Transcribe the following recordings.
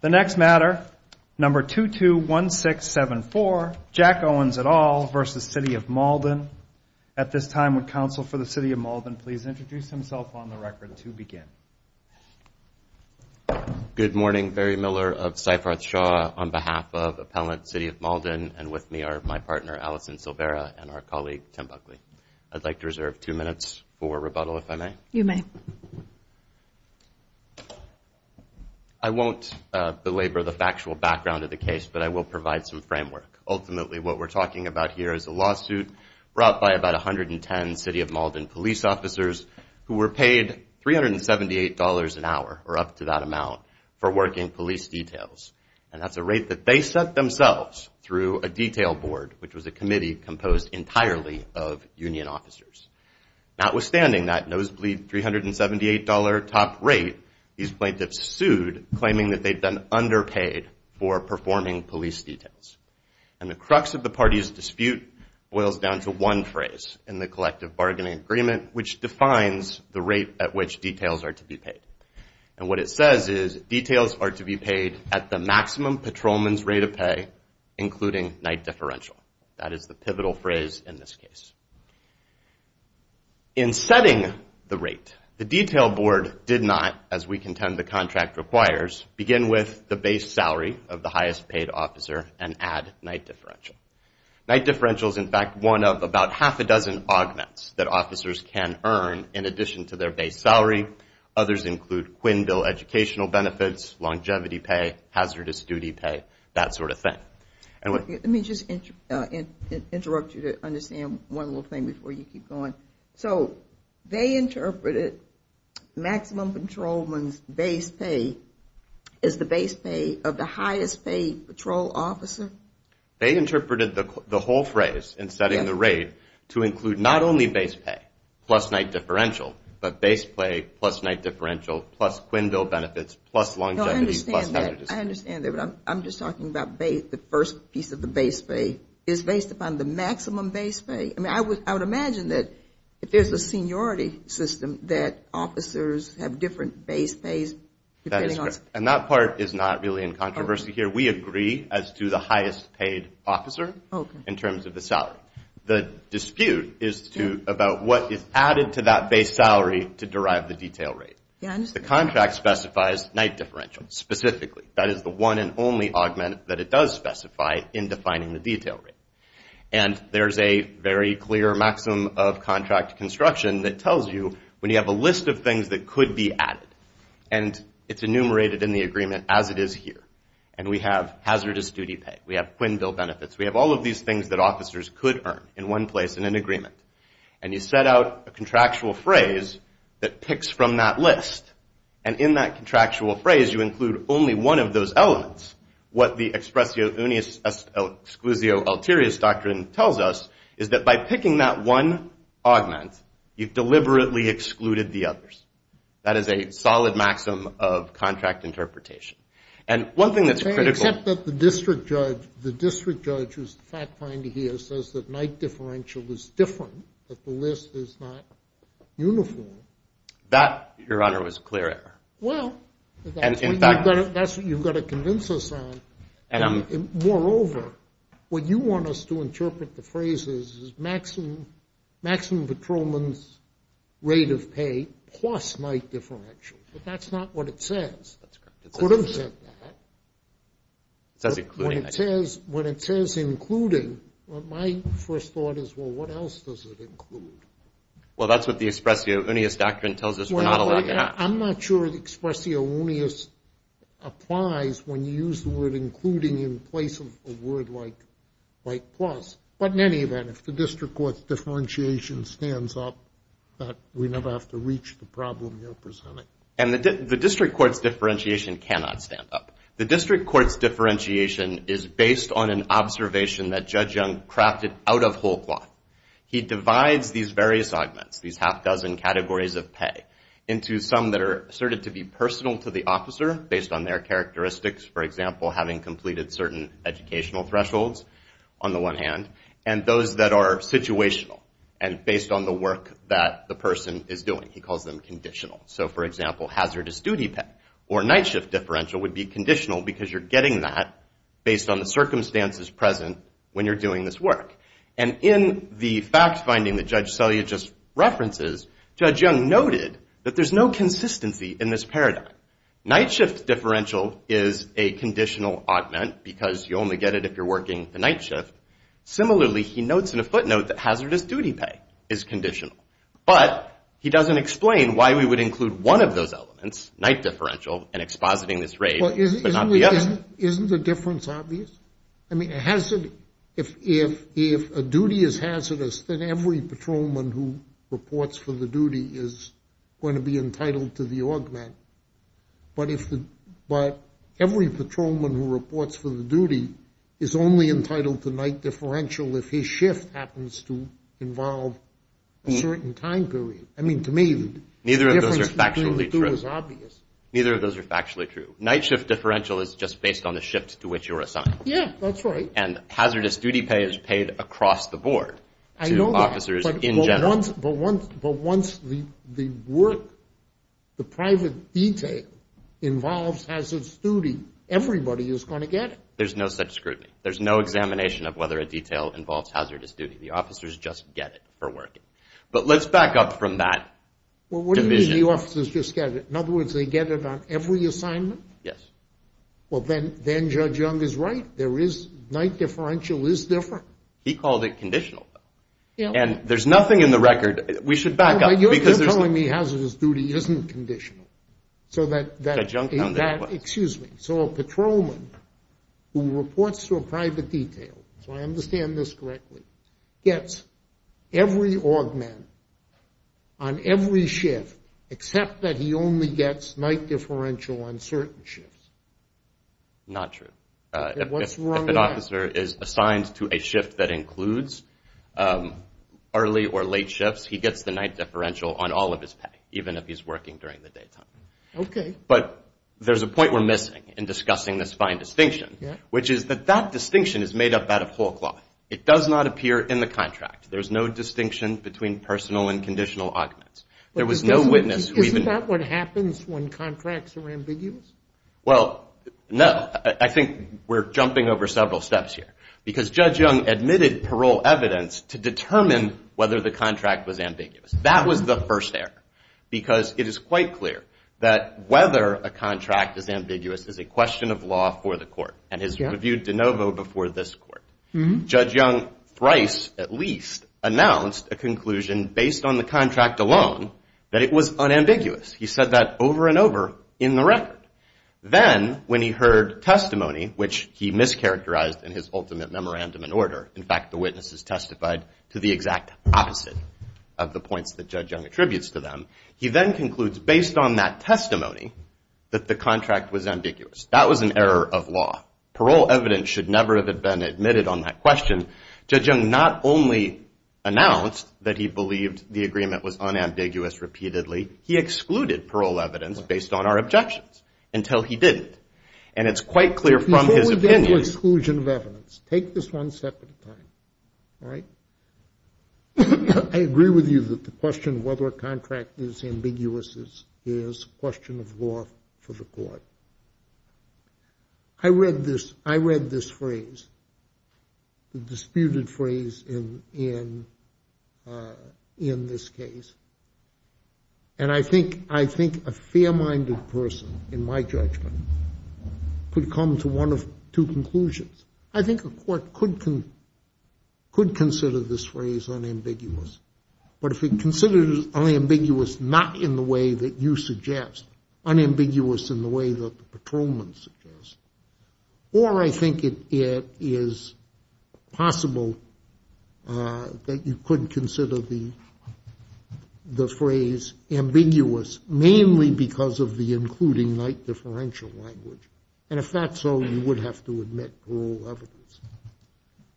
The next matter, number 221674, Jack Owens et al. v. City of Malden. At this time, would counsel for the City of Malden please introduce himself on the record to begin? Good morning. Barry Miller of Seyfroth Shaw on behalf of Appellant City of Malden. And with me are my partner, Allison Silvera, and our colleague, Tim Buckley. I'd like to reserve two minutes for rebuttal, if I may. You may. Thank you. I won't belabor the factual background of the case, but I will provide some framework. Ultimately, what we're talking about here is a lawsuit brought by about 110 City of Malden police officers who were paid $378 an hour, or up to that amount, for working police details. And that's a rate that they set themselves through a detail board, which was a committee composed entirely of union officers. Notwithstanding that nosebleed $378 top rate, these plaintiffs sued, claiming that they'd been underpaid for performing police details. And the crux of the party's dispute boils down to one phrase in the collective bargaining agreement, which defines the rate at which details are to be paid. And what it says is, details are to be paid at the maximum patrolman's rate of pay, including night differential. That is the pivotal phrase in this case. In setting the rate, the detail board did not, as we contend the contract requires, begin with the base salary of the highest paid officer and add night differential. Night differential is, in fact, one of about half a dozen augments that officers can earn in addition to their base salary. Others include Quinnville educational benefits, longevity pay, hazardous duty pay, that sort of thing. Let me just interrupt you to understand one little thing before you keep going. So they interpreted maximum patrolman's base pay as the base pay of the highest paid patrol officer? They interpreted the whole phrase in setting the rate to include not only base pay, plus night differential, but base pay, plus night differential, plus Quinnville benefits, plus longevity, plus hazardous duty. I understand that. I'm just talking about the first piece of the base pay is based upon the maximum base pay. I mean, I would imagine that if there's a seniority system, that officers have different base pays depending on. And that part is not really in controversy here. We agree as to the highest paid officer in terms of the salary. The dispute is about what is added to that base salary to derive the detail rate. The contract specifies night differential specifically. That is the one and only augment that it does specify in defining the detail rate. And there's a very clear maximum of contract construction that tells you when you have a list of things that could be added. And it's enumerated in the agreement as it is here. And we have hazardous duty pay. We have Quinnville benefits. We have all of these things that officers could earn in one place in an agreement. And you set out a contractual phrase that picks from that list. And in that contractual phrase, you include only one of those elements. What the expressio unius exclusio ulterioris doctrine tells us is that by picking that one augment, you've deliberately excluded the others. That is a solid maximum of contract interpretation. And one thing that's critical. Except that the district judge, the district judge who's the fact finder here, says that night differential is different, that the list is not uniform. That, Your Honor, was a clear error. Well. And in fact. That's what you've got to convince us on. Moreover, what you want us to interpret the phrase is, maximum patrolman's rate of pay plus night differential. But that's not what it says. That's correct. It could have said that. It says including. When it says including, my first thought is, well, what else does it include? Well, that's what the expressio unius doctrine tells us we're not allowed to have. I'm not sure the expressio unius applies when you use the word including in place of a word like plus. But in any event, if the district court's differentiation stands up, we never have to reach the problem you're presenting. And the district court's differentiation cannot stand up. The district court's differentiation is based on an observation that Judge Young crafted out of whole cloth. He divides these various augments, these half dozen categories of pay, into some that are asserted to be personal to the officer based on their characteristics. For example, having completed certain educational thresholds on the one hand, and those that are situational and based on the work that the person is doing. He calls them conditional. So for example, hazardous duty pay or night shift differential would be conditional because you're getting that based on the circumstances present when you're doing this work. And in the fact finding that Judge Selya just references, Judge Young noted that there's no consistency in this paradigm. Night shift differential is a conditional augment because you only get it if you're working the night shift. Similarly, he notes in a footnote that hazardous duty pay is conditional. But he doesn't explain why we would include one of those elements, night differential, in expositing this raid, but not the other. Isn't the difference obvious? I mean, if a duty is hazardous, then every patrolman who reports for the duty is going to be entitled to the augment. But every patrolman who reports for the duty is only entitled to night differential if his shift happens to involve a certain time period. I mean, to me, the difference between the two is obvious. Neither of those are factually true. Night shift differential is just based on the shift to which you're assigned. Yeah, that's right. And hazardous duty pay is paid across the board to officers in general. But once the work, the private detail, involves hazardous duty, everybody is going to get it. There's no such scrutiny. There's no examination of whether a detail involves hazardous duty. The officers just get it for working. But let's back up from that division. Well, what do you mean the officers just get it? In other words, they get it on every assignment? Yes. Well, then Judge Young is right. There is, night differential is different. He called it conditional. Yeah. And there's nothing in the record, we should back up, because there's- All right, you're telling me hazardous duty isn't conditional. So that- Judge Young found it was. Excuse me. So a patrolman who reports to a private detail, so I understand this correctly, gets every augment on every shift, except that he only gets night differential on certain shifts. Not true. Okay, what's wrong with that? If an officer is assigned to a shift that includes early or late shifts, he gets the night differential on all of his pay, even if he's working during the daytime. Okay. But there's a point we're missing in discussing this fine distinction, which is that that distinction is made up out of whole cloth. It does not appear in the contract. There's no distinction between personal and conditional augments. There was no witness who even- Isn't that what happens when contracts are ambiguous? Well, no. I think we're jumping over several steps here, because Judge Young admitted parole evidence to determine whether the contract was ambiguous. That was the first error, because it is quite clear that whether a contract is ambiguous is a question of law for the court, and has reviewed de novo before this court. Judge Young thrice, at least, announced a conclusion based on the contract alone that it was unambiguous. He said that over and over in the record. Then, when he heard testimony, which he mischaracterized in his ultimate memorandum and order, in fact, the witnesses testified to the exact opposite of the points that Judge Young attributes to them, he then concludes, based on that testimony, that the contract was ambiguous. That was an error of law. Parole evidence should never have been admitted on that question. Judge Young not only announced that he believed the agreement was unambiguous repeatedly, he excluded parole evidence based on our objections until he didn't. And it's quite clear from his opinion. Before we get to exclusion of evidence, take this one step at a time, all right? I agree with you that the question of whether a contract is ambiguous is a question of law for the court. I read this phrase, the disputed phrase in this case, and I think a fair-minded person, in my judgment, could come to one of two conclusions. I think a court could consider this phrase unambiguous, but if it considered it unambiguous not in the way that you suggest, unambiguous in the way that the patrolman suggests, or I think it is possible that you could consider the phrase ambiguous, mainly because of the including night differential language. And if that's so, you would have to admit parole evidence.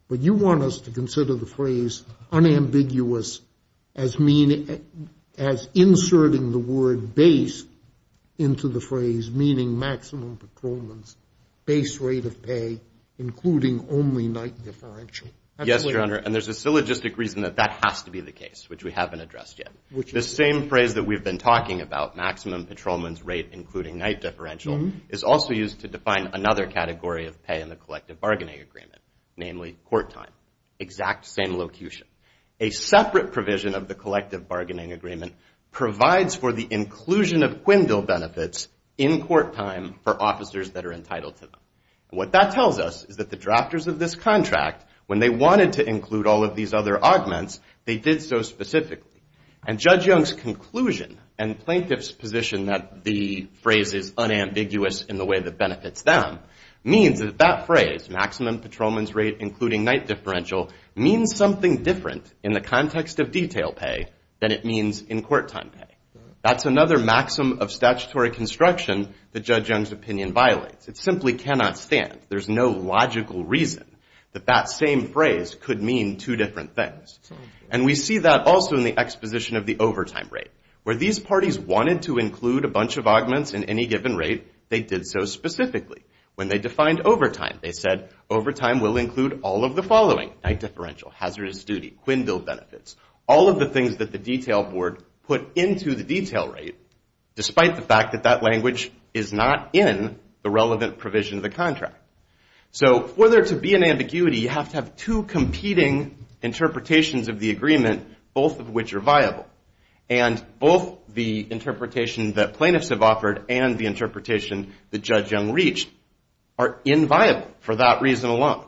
But you want us to consider the phrase unambiguous as inserting the word base into the phrase, meaning maximum patrolman's base rate of pay, including only night differential. Yes, Your Honor, and there's a syllogistic reason that that has to be the case, which we haven't addressed yet. The same phrase that we've been talking about, maximum patrolman's rate, including night differential, is also used to define another category of pay in the collective bargaining agreement, namely court time, exact same locution. A separate provision of the collective bargaining agreement provides for the inclusion of Quindle benefits in court time for officers that are entitled to them. What that tells us is that the drafters of this contract, when they wanted to include all of these other augments, they did so specifically. And Judge Young's conclusion and plaintiff's position that the phrase is unambiguous in the way that benefits them, means that that phrase, maximum patrolman's rate, including night differential, means something different in the context of detail pay than it means in court time pay. That's another maxim of statutory construction that Judge Young's opinion violates. It simply cannot stand. There's no logical reason that that same phrase could mean two different things. And we see that also in the exposition of the overtime rate, where these parties wanted to include a bunch of augments in any given rate, they did so specifically. When they defined overtime, they said, overtime will include all of the following, night differential, hazardous duty, Quindle benefits, all of the things that the detail board put into the detail rate, despite the fact that that language is not in the relevant provision of the contract. So for there to be an ambiguity, you have to have two competing interpretations of the agreement, both of which are viable. And both the interpretation that plaintiffs have offered and the interpretation that Judge Young reached are inviolable for that reason alone.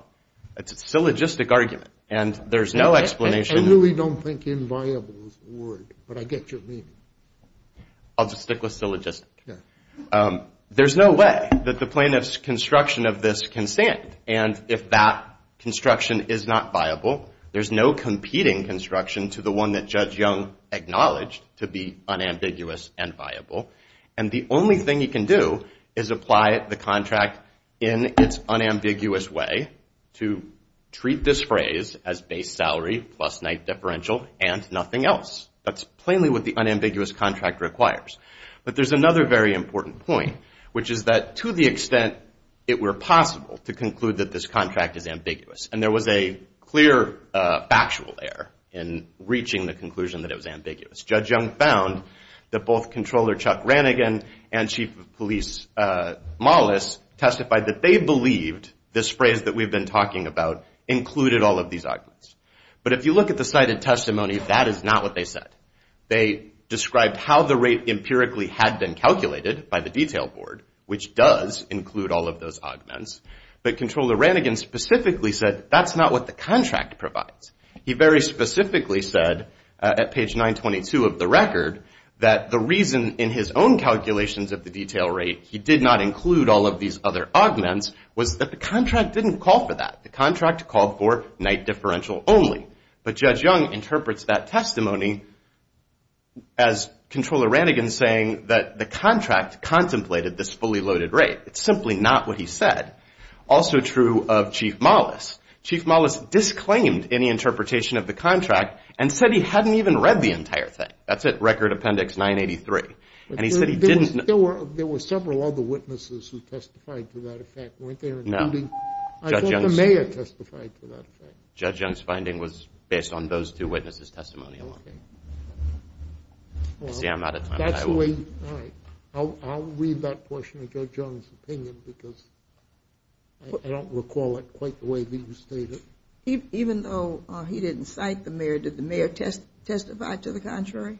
It's a syllogistic argument. And there's no explanation. I really don't think inviolable is the word, but I get your meaning. I'll just stick with syllogistic. There's no way that the plaintiff's construction of this can stand. And if that construction is not viable, there's no competing construction to the one that Judge Young acknowledged to be unambiguous and viable. And the only thing you can do is apply the contract in its unambiguous way to treat this phrase as base salary plus night differential and nothing else. That's plainly what the unambiguous contract requires. But there's another very important point, which is that to the extent it were possible to conclude that this contract is ambiguous, and there was a clear factual error in reaching the conclusion that it was ambiguous, Judge Young found that both Controller Chuck Rannigan and Chief of Police Mollis testified that they believed this phrase that we've been talking about included all of these arguments. But if you look at the cited testimony, that is not what they said. They described how the rate empirically had been calculated by the detail board, which does include all of those arguments. But Controller Rannigan specifically said that's not what the contract provides. He very specifically said at page 922 of the record that the reason in his own calculations of the detail rate he did not include all of these other arguments was that the contract didn't call for that. The contract called for night differential only. But Judge Young interprets that testimony as Controller Rannigan saying that the contract contemplated this fully loaded rate. It's simply not what he said. Also true of Chief Mollis. Chief Mollis disclaimed any interpretation of the contract and said he hadn't even read the entire thing. That's at Record Appendix 983. And he said he didn't know. There were several other witnesses who testified to that effect, weren't there? No. I thought the mayor testified to that effect. Judge Young's finding was based on those two witnesses' testimony alone. See, I'm out of time. That's the way, all right. I'll read that portion of Judge Young's opinion because I don't recall it quite the way he stated. Even though he didn't cite the mayor, did the mayor testify to the contrary?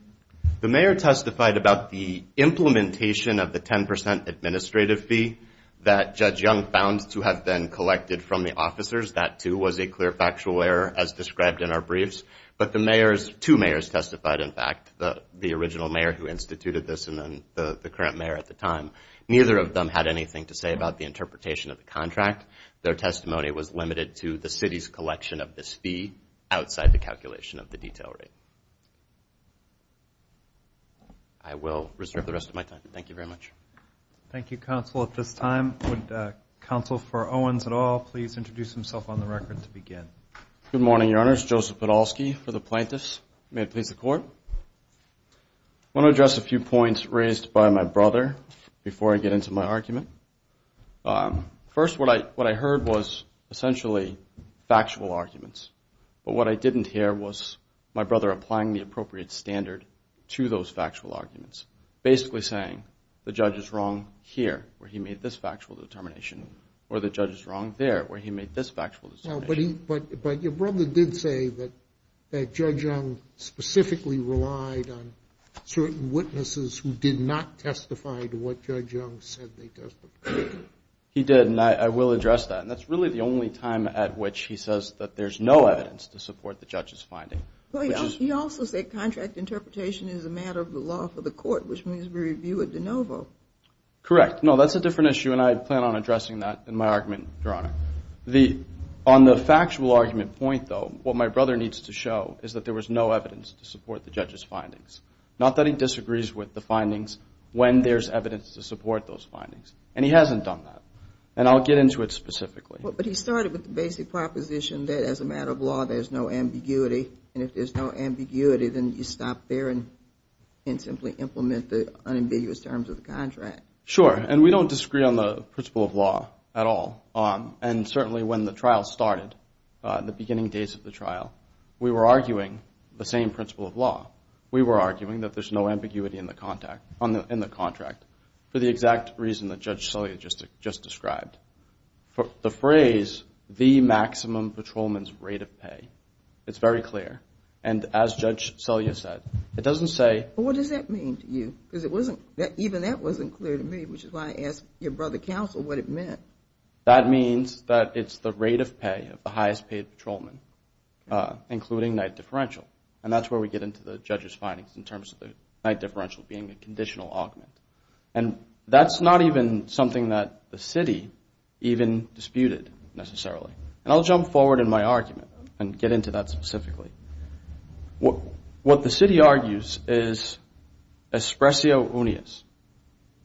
The mayor testified about the implementation of the 10% administrative fee that Judge Young found to have been collected from the officers. That, too, was a clear factual error as described in our briefs. But the mayors, two mayors testified, in fact. The original mayor who instituted this and then the current mayor at the time. Neither of them had anything to say about the interpretation of the contract. Their testimony was limited to the city's collection of this fee outside the calculation of the detail rate. I will reserve the rest of my time. Thank you, Counsel. At this time, would Counsel for Owens et al please introduce himself on the record to begin. Good morning, Your Honors. Joseph Podolsky for the plaintiffs. May it please the Court. I want to address a few points raised by my brother before I get into my argument. First, what I heard was essentially factual arguments. But what I didn't hear was my brother applying the appropriate standard to those factual arguments. Basically saying the judge is wrong here where he made this factual determination or the judge is wrong there where he made this factual determination. But your brother did say that Judge Young specifically relied on certain witnesses who did not testify to what Judge Young said they testified. He did, and I will address that. And that's really the only time at which he says that there's no evidence to support the judge's finding. He also said contract interpretation is a matter of the law for the Court, which means we review it de novo. Correct, no, that's a different issue and I plan on addressing that in my argument, Your Honor. The, on the factual argument point, though, what my brother needs to show is that there was no evidence to support the judge's findings. Not that he disagrees with the findings when there's evidence to support those findings. And he hasn't done that. And I'll get into it specifically. But he started with the basic proposition that as a matter of law, there's no ambiguity. And if there's no ambiguity, then you stop there and simply implement the unambiguous terms of the contract. Sure, and we don't disagree on the principle of law at all. And certainly when the trial started, the beginning days of the trial, we were arguing the same principle of law. We were arguing that there's no ambiguity in the contract for the exact reason that Judge Selya just described. The phrase, the maximum patrolman's rate of pay, it's very clear. And as Judge Selya said, it doesn't say. Well, what does that mean to you? Because it wasn't, even that wasn't clear to me, which is why I asked your brother counsel what it meant. That means that it's the rate of pay of the highest paid patrolman, including night differential. And that's where we get into the judge's findings in terms of the night differential being a conditional augment. And that's not even something that the city even disputed, necessarily. And I'll jump forward in my argument and get into that specifically. What the city argues is expressio unius.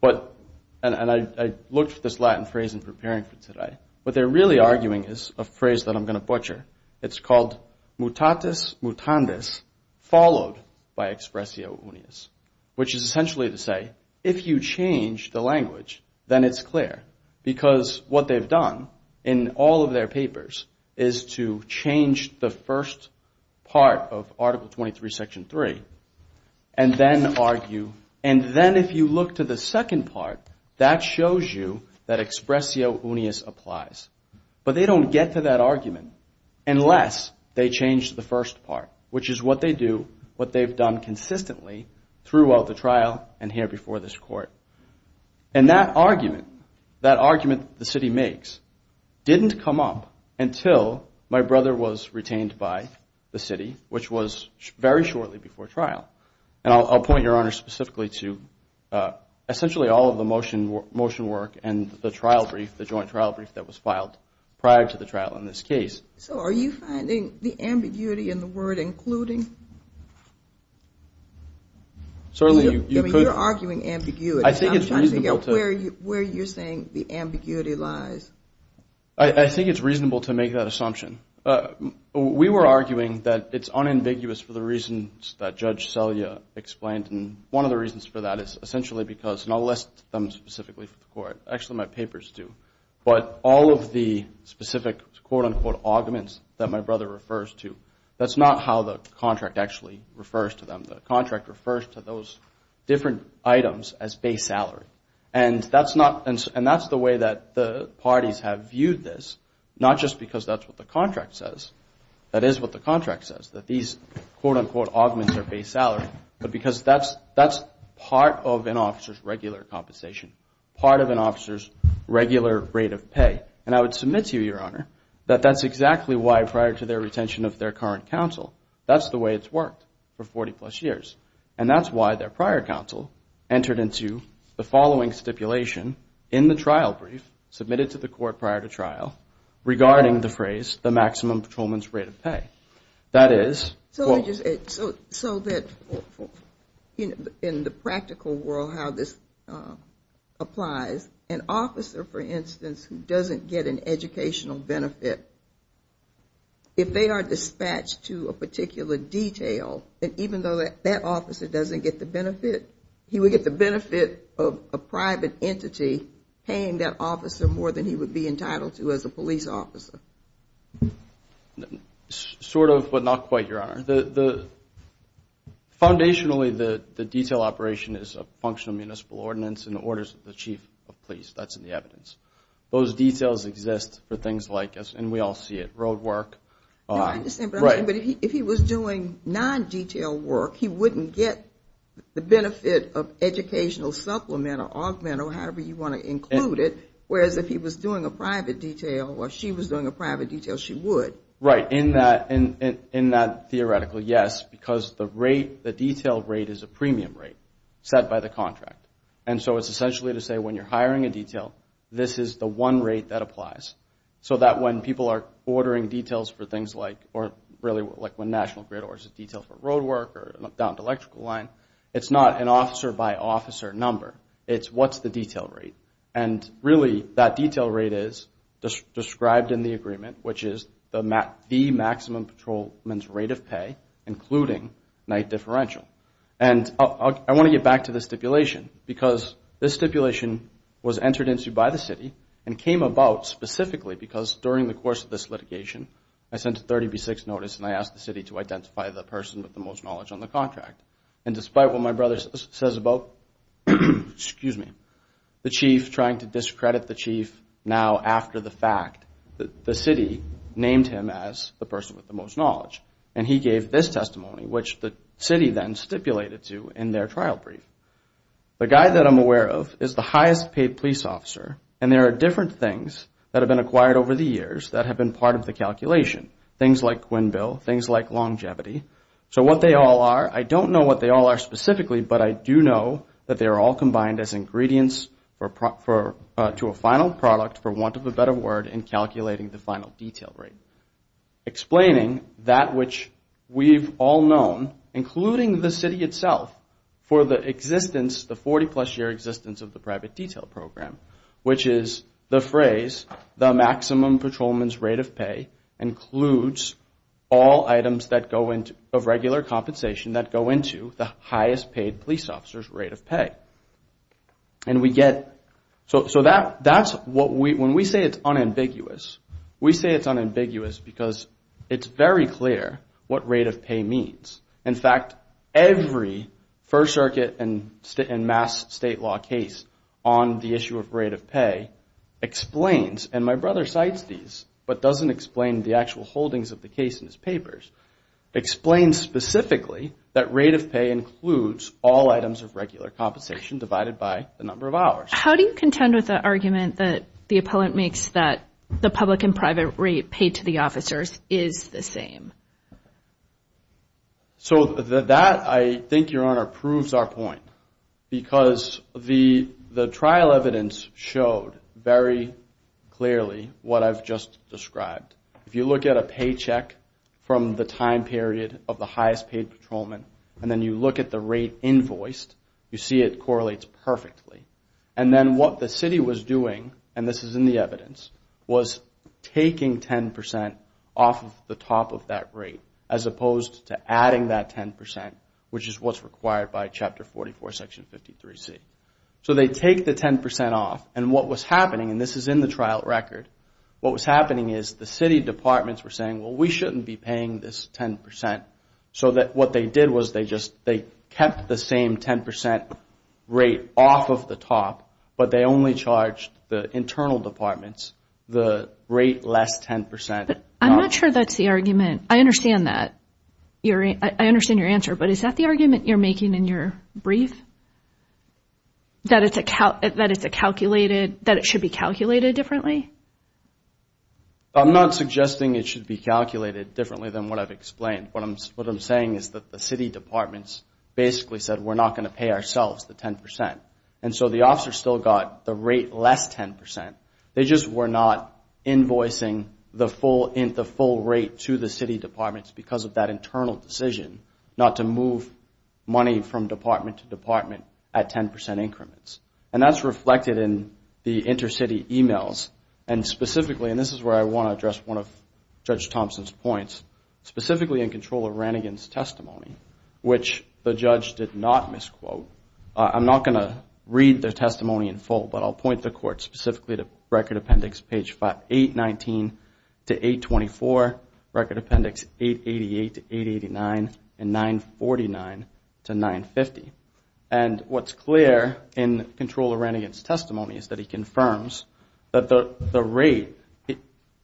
But, and I looked at this Latin phrase in preparing for today. What they're really arguing is a phrase that I'm going to butcher. It's called mutatis mutandis followed by expressio unius, which is essentially to say, if you change the language, then it's clear. Because what they've done in all of their papers is to change the first part of Article 23, Section 3, and then argue, and then if you look to the second part, that shows you that expressio unius applies. But they don't get to that argument unless they change the first part, which is what they do, what they've done consistently throughout the trial and here before this court. And that argument, that argument the city makes didn't come up until my brother was retained by the city, which was very shortly before trial. And I'll point your honor specifically to essentially all of the motion work and the trial brief, the joint trial brief that was filed prior to the trial in this case. So are you finding the ambiguity in the word including? Certainly you could. I mean, you're arguing ambiguity. I'm trying to figure out where you're saying the ambiguity lies. I think it's reasonable to make that assumption. We were arguing that it's unambiguous for the reasons that Judge Selya explained. And one of the reasons for that is essentially because, and I'll list them specifically for the court, actually my papers do, but all of the specific quote unquote arguments that my brother refers to, that's not how the contract actually refers to them. The contract refers to those different items as base salary. And that's the way that the parties have viewed this, not just because that's what the contract says, that is what the contract says, that these quote unquote arguments are base salary, but because that's part of an officer's regular compensation, part of an officer's regular rate of pay. And I would submit to you, your honor, that that's exactly why prior to their retention of their current counsel, that's the way it's worked for 40 plus years. And that's why their prior counsel entered into the following stipulation in the trial brief submitted to the court prior to trial regarding the phrase, the maximum patrolman's rate of pay. That is, quote. So that in the practical world how this applies, an officer, for instance, who doesn't get an educational benefit, if they are dispatched to a particular detail, that even though that officer doesn't get the benefit, he would get the benefit of a private entity paying that officer more than he would be entitled to as a police officer. Sort of, but not quite, your honor. Foundationally, the detail operation is a functional municipal ordinance and the orders of the chief of police, that's in the evidence. Those details exist for things like, and we all see it, road work. I understand, but if he was doing non-detail work, he wouldn't get the benefit of educational supplement or augment or however you want to include it, whereas if he was doing a private detail or she was doing a private detail, she would. Right, in that theoretical, yes, because the detail rate is a premium rate set by the contract. And so it's essentially to say when you're hiring a detail, this is the one rate that applies. So that when people are ordering details for things like, or really like when National Grid orders a detail for road work or down to electrical line, it's not an officer by officer number. It's what's the detail rate. And really, that detail rate is described in the agreement, which is the maximum patrolman's rate of pay, including night differential. And I want to get back to the stipulation because this stipulation was entered into by the city and came about specifically because during the course of this litigation, I sent a 30B6 notice and I asked the city to identify the person with the most knowledge on the contract. And despite what my brother says about, excuse me, the chief trying to discredit the chief now after the fact that the city named him as the person with the most knowledge. And he gave this testimony, which the city then stipulated to in their trial brief. The guy that I'm aware of is the highest paid police officer and there are different things that have been acquired over the years that have been part of the calculation. Things like Quinnbill, things like longevity. So what they all are, I don't know what they all are specifically, but I do know that they're all combined as ingredients to a final product for want of a better word in calculating the final detail rate. Explaining that which we've all known, including the city itself for the existence, the 40 plus year existence of the private detail program, which is the phrase, the maximum patrolman's rate of pay includes all items of regular compensation that go into the highest paid police officer's rate of pay. And we get, so that's what we, when we say it's unambiguous, we say it's unambiguous because it's very clear what rate of pay means. In fact, every First Circuit and mass state law case on the issue of rate of pay explains, and my brother cites these, but doesn't explain the actual holdings of the case in his papers, explains specifically that rate of pay includes all items of regular compensation divided by the number of hours. How do you contend with the argument that the appellant makes that the public and private rate paid to the officers is the same? So that, I think, Your Honor, proves our point because the trial evidence showed very clearly what I've just described. If you look at a paycheck from the time period of the highest paid patrolman, and then you look at the rate invoiced, you see it correlates perfectly. And then what the city was doing, and this is in the evidence, was taking 10% off of the top of that rate as opposed to adding that 10%, which is what's required by Chapter 44, Section 53C. So they take the 10% off, and what was happening, and this is in the trial record, what was happening is the city departments were saying, well, we shouldn't be paying this 10%, so that what they did was they just, they kept the same 10% rate off of the top, but they only charged the internal departments the rate less 10% off. I'm not sure that's the argument. I understand that, I understand your answer, but is that the argument you're making in your brief? That it's a calculated, that it should be calculated differently? I'm not suggesting it should be calculated differently than what I've explained. What I'm saying is that the city departments basically said we're not gonna pay ourselves the 10%, and so the officers still got the rate less 10%. They just were not invoicing the full rate to the city departments because of that internal decision not to move money from department to department at 10% increments, and that's reflected in the intercity emails, and specifically, and this is where I wanna address one of Judge Thompson's points, specifically in control of Rannigan's testimony, I'm not gonna read the testimony in full, but I'll point the court specifically to record appendix page 819 to 824, record appendix 888 to 889, and 949 to 950, and what's clear in control of Rannigan's testimony is that he confirms that the rate,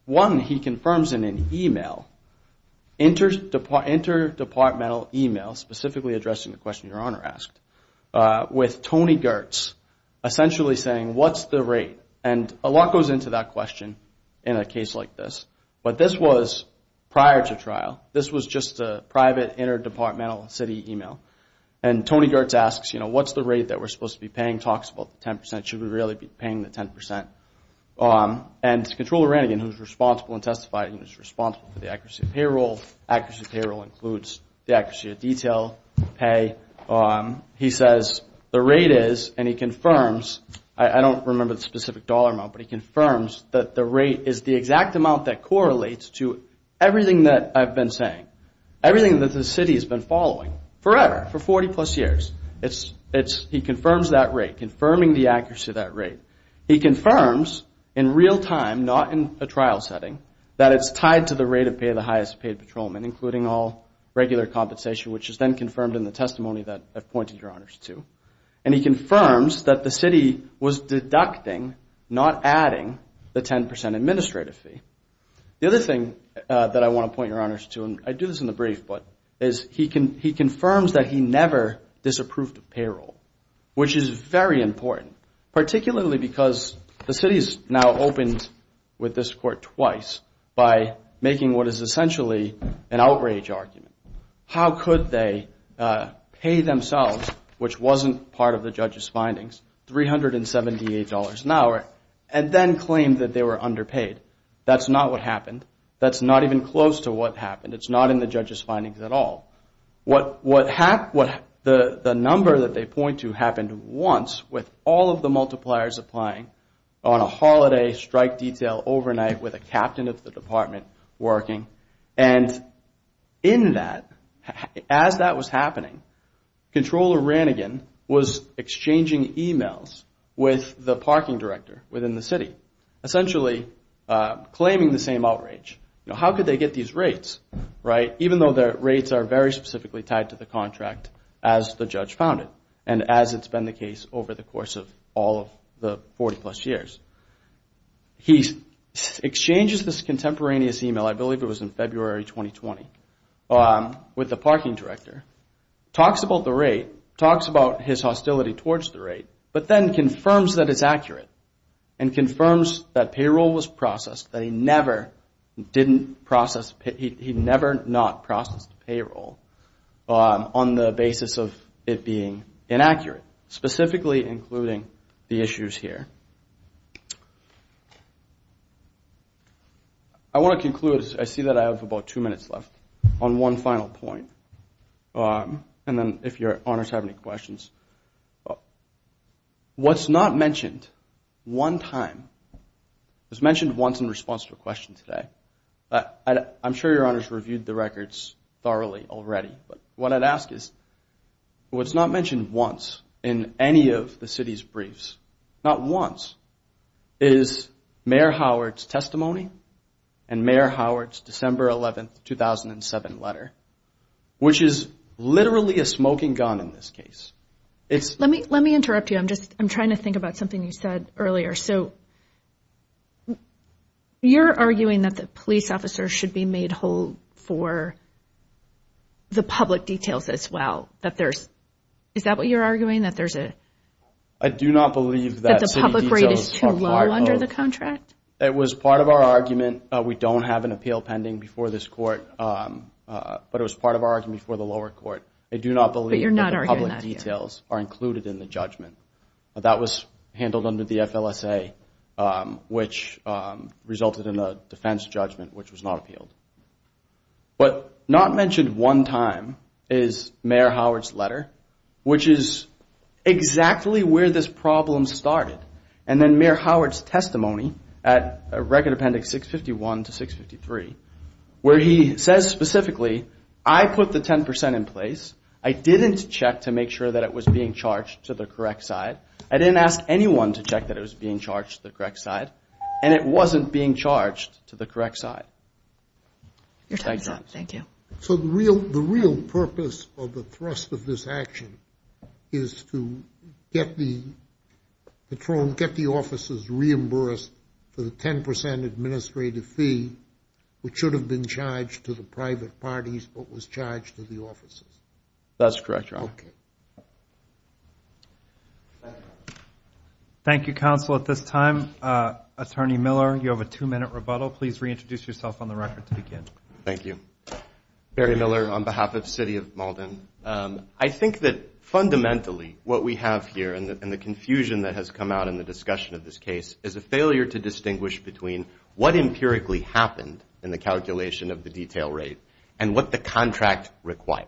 one, he confirms in an email, interdepartmental email, specifically addressing the question your Honor asked, with Tony Gertz essentially saying what's the rate, and a lot goes into that question in a case like this, but this was prior to trial. This was just a private interdepartmental city email, and Tony Gertz asks, you know, what's the rate that we're supposed to be paying, talks about the 10%, should we really be paying the 10%, and it's control of Rannigan who's responsible in testifying, who's responsible for the accuracy of payroll, accuracy of payroll includes the accuracy of detail, pay, he says the rate is, and he confirms, I don't remember the specific dollar amount, but he confirms that the rate is the exact amount that correlates to everything that I've been saying, everything that the city has been following forever, for 40 plus years, he confirms that rate, confirming the accuracy of that rate. He confirms in real time, not in a trial setting, that it's tied to the rate of pay of the highest paid patrolman, including all regular compensation, which is then confirmed in the testimony that I've pointed your honors to, and he confirms that the city was deducting, not adding the 10% administrative fee. The other thing that I want to point your honors to, and I do this in the brief, but, is he confirms that he never disapproved of payroll, which is very important, particularly because the city's now opened with this court twice, by making what is essentially an outrage argument. How could they pay themselves, which wasn't part of the judge's findings, $378 an hour, and then claim that they were underpaid? That's not what happened. That's not even close to what happened. It's not in the judge's findings at all. The number that they point to happened once, with all of the multipliers applying, on a holiday, strike detail, overnight, with a captain of the department working, and in that, as that was happening, Comptroller Ranigan was exchanging emails with the parking director within the city, essentially claiming the same outrage. How could they get these rates? Even though the rates are very specifically tied to the contract as the judge found it, and as it's been the case over the course of all of the 40 plus years. He exchanges this contemporaneous email, I believe it was in February 2020, with the parking director, talks about the rate, talks about his hostility towards the rate, but then confirms that it's accurate, and confirms that payroll was processed, that he never did not process the payroll, on the basis of it being inaccurate, specifically including the issues here. I wanna conclude, I see that I have about two minutes left, on one final point, and then if your honors have any questions, what's not mentioned one time, was mentioned once in response to a question today, I'm sure your honors reviewed the records thoroughly already but what I'd ask is, what's not mentioned once in any of the city's briefs, not once, is Mayor Howard's testimony, and Mayor Howard's December 11th, 2007 letter, which is literally a smoking gun in this case. Let me interrupt you, I'm just, I'm trying to think about something you said earlier. So, you're arguing that the police officers should be made whole for the public details as well, that there's, is that what you're arguing, that there's a... I do not believe that city details are part of... That the public rate is too low under the contract? It was part of our argument, we don't have an appeal pending before this court, but it was part of our argument before the lower court. I do not believe that the public details are included in the judgment. which resulted in a defense judgment, which was not appealed. What's not mentioned one time is Mayor Howard's letter, which is exactly where this problem started, and then Mayor Howard's testimony at Record Appendix 651 to 653, where he says specifically, I put the 10% in place, I didn't check to make sure that it was being charged to the correct side, I didn't ask anyone to check that it was being charged to the correct side, and it wasn't being charged to the correct side. Your time's up, thank you. So the real purpose of the thrust of this action is to get the patrol, get the officers reimbursed for the 10% administrative fee, which should have been charged to the private parties, but was charged to the officers. That's correct, Your Honor. Okay. Thank you, counsel. At this time, Attorney Miller, you have a two-minute rebuttal. Please reintroduce yourself on the record Thank you. Barry Miller on behalf of City of Malden. I think that fundamentally, what we have here and the confusion that has come out in the discussion of this case is a failure to distinguish between what empirically happened in the calculation of the detail rate and what the contract required.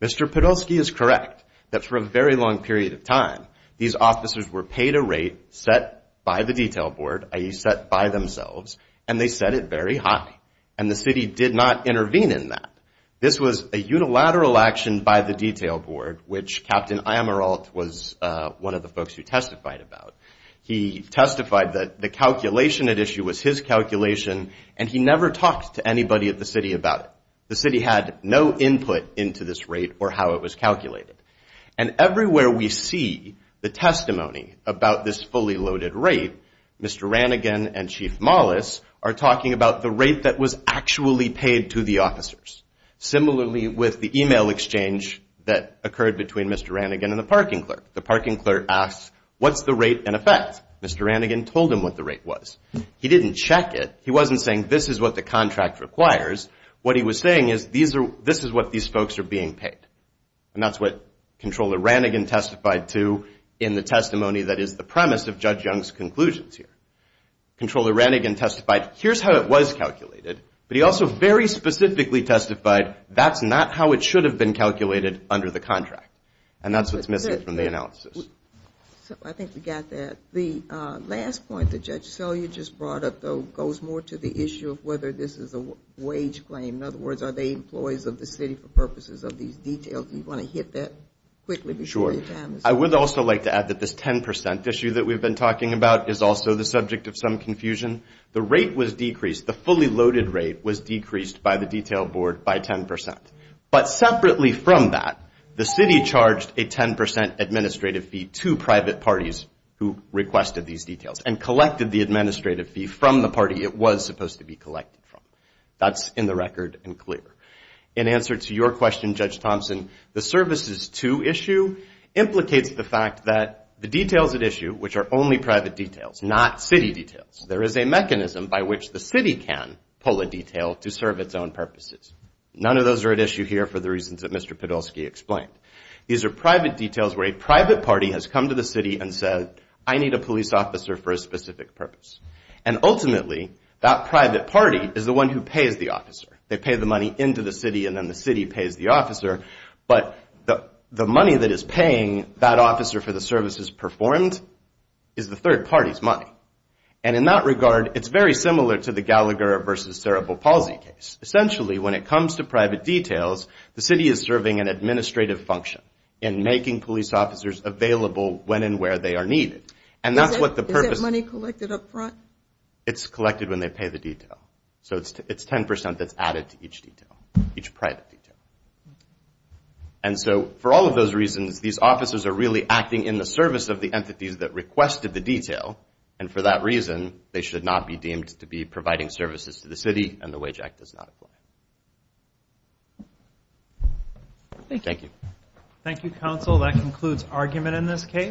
Mr. Podolsky is correct that for a very long period of time, these officers were paid a rate set by the detail board, i.e. set by themselves, and they set it very high. The city did not intervene in that. This was a unilateral action by the detail board, which Captain Amaral was one of the folks who testified about. He testified that the calculation at issue was his calculation, and he never talked to anybody at the city about it. The city had no input into this rate or how it was calculated. Everywhere we see the testimony about this fully loaded rate, Mr. Ranigan and Chief Mollis are talking about the rate that was actually paid to the officers, similarly with the email exchange that occurred between Mr. Ranigan and the parking clerk. The parking clerk asks, what's the rate in effect? Mr. Ranigan told him what the rate was. He didn't check it. He wasn't saying this is what the contract requires. What he was saying is this is what these folks are being paid, and that's what Comptroller Ranigan testified to in the testimony that is the premise of Judge Young's conclusions here. Comptroller Ranigan testified, here's how it was calculated, but he also very specifically testified that's not how it should have been calculated under the contract, and that's what's missing from the analysis. I think we got that. The last point that Judge Selya just brought up, though, goes more to the issue of whether this is a wage claim. In other words, are they employees of the city for purposes of these details? Do you want to hit that quickly before your time is up? I would also like to add that this 10% issue that we've been talking about is also the subject of some confusion. The rate was decreased, the fully loaded rate was decreased by the detail board by 10%, but separately from that, the city charged a 10% administrative fee to private parties who requested these details and collected the administrative fee from the party it was supposed to be collected from. That's in the record and clear. In answer to your question, Judge Thompson, the services to issue implicates the fact that the details at issue, which are only private details, not city details, there is a mechanism by which the city can pull a detail to serve its own purposes. None of those are at issue here for the reasons that Mr. Podolsky explained. These are private details where a private party has come to the city and said, I need a police officer for a specific purpose. And ultimately, that private party is the one who pays the officer. They pay the money into the city and then the city pays the officer, but the money that is paying that officer for the services performed is the third party's money. And in that regard, it's very similar to the Gallagher v. Cerebral Palsy case. Essentially, when it comes to private details, the city is serving an administrative function in making police officers available when and where they are needed. And that's what the purpose- Is that money collected up front? It's collected when they pay the detail. So it's 10% that's added to each detail, each private detail. And so, for all of those reasons, these officers are really acting in the service of the entities that requested the detail. And for that reason, they should not be deemed to be providing services to the city and the Wage Act does not apply. Thank you. Thank you, counsel. That concludes argument in this case.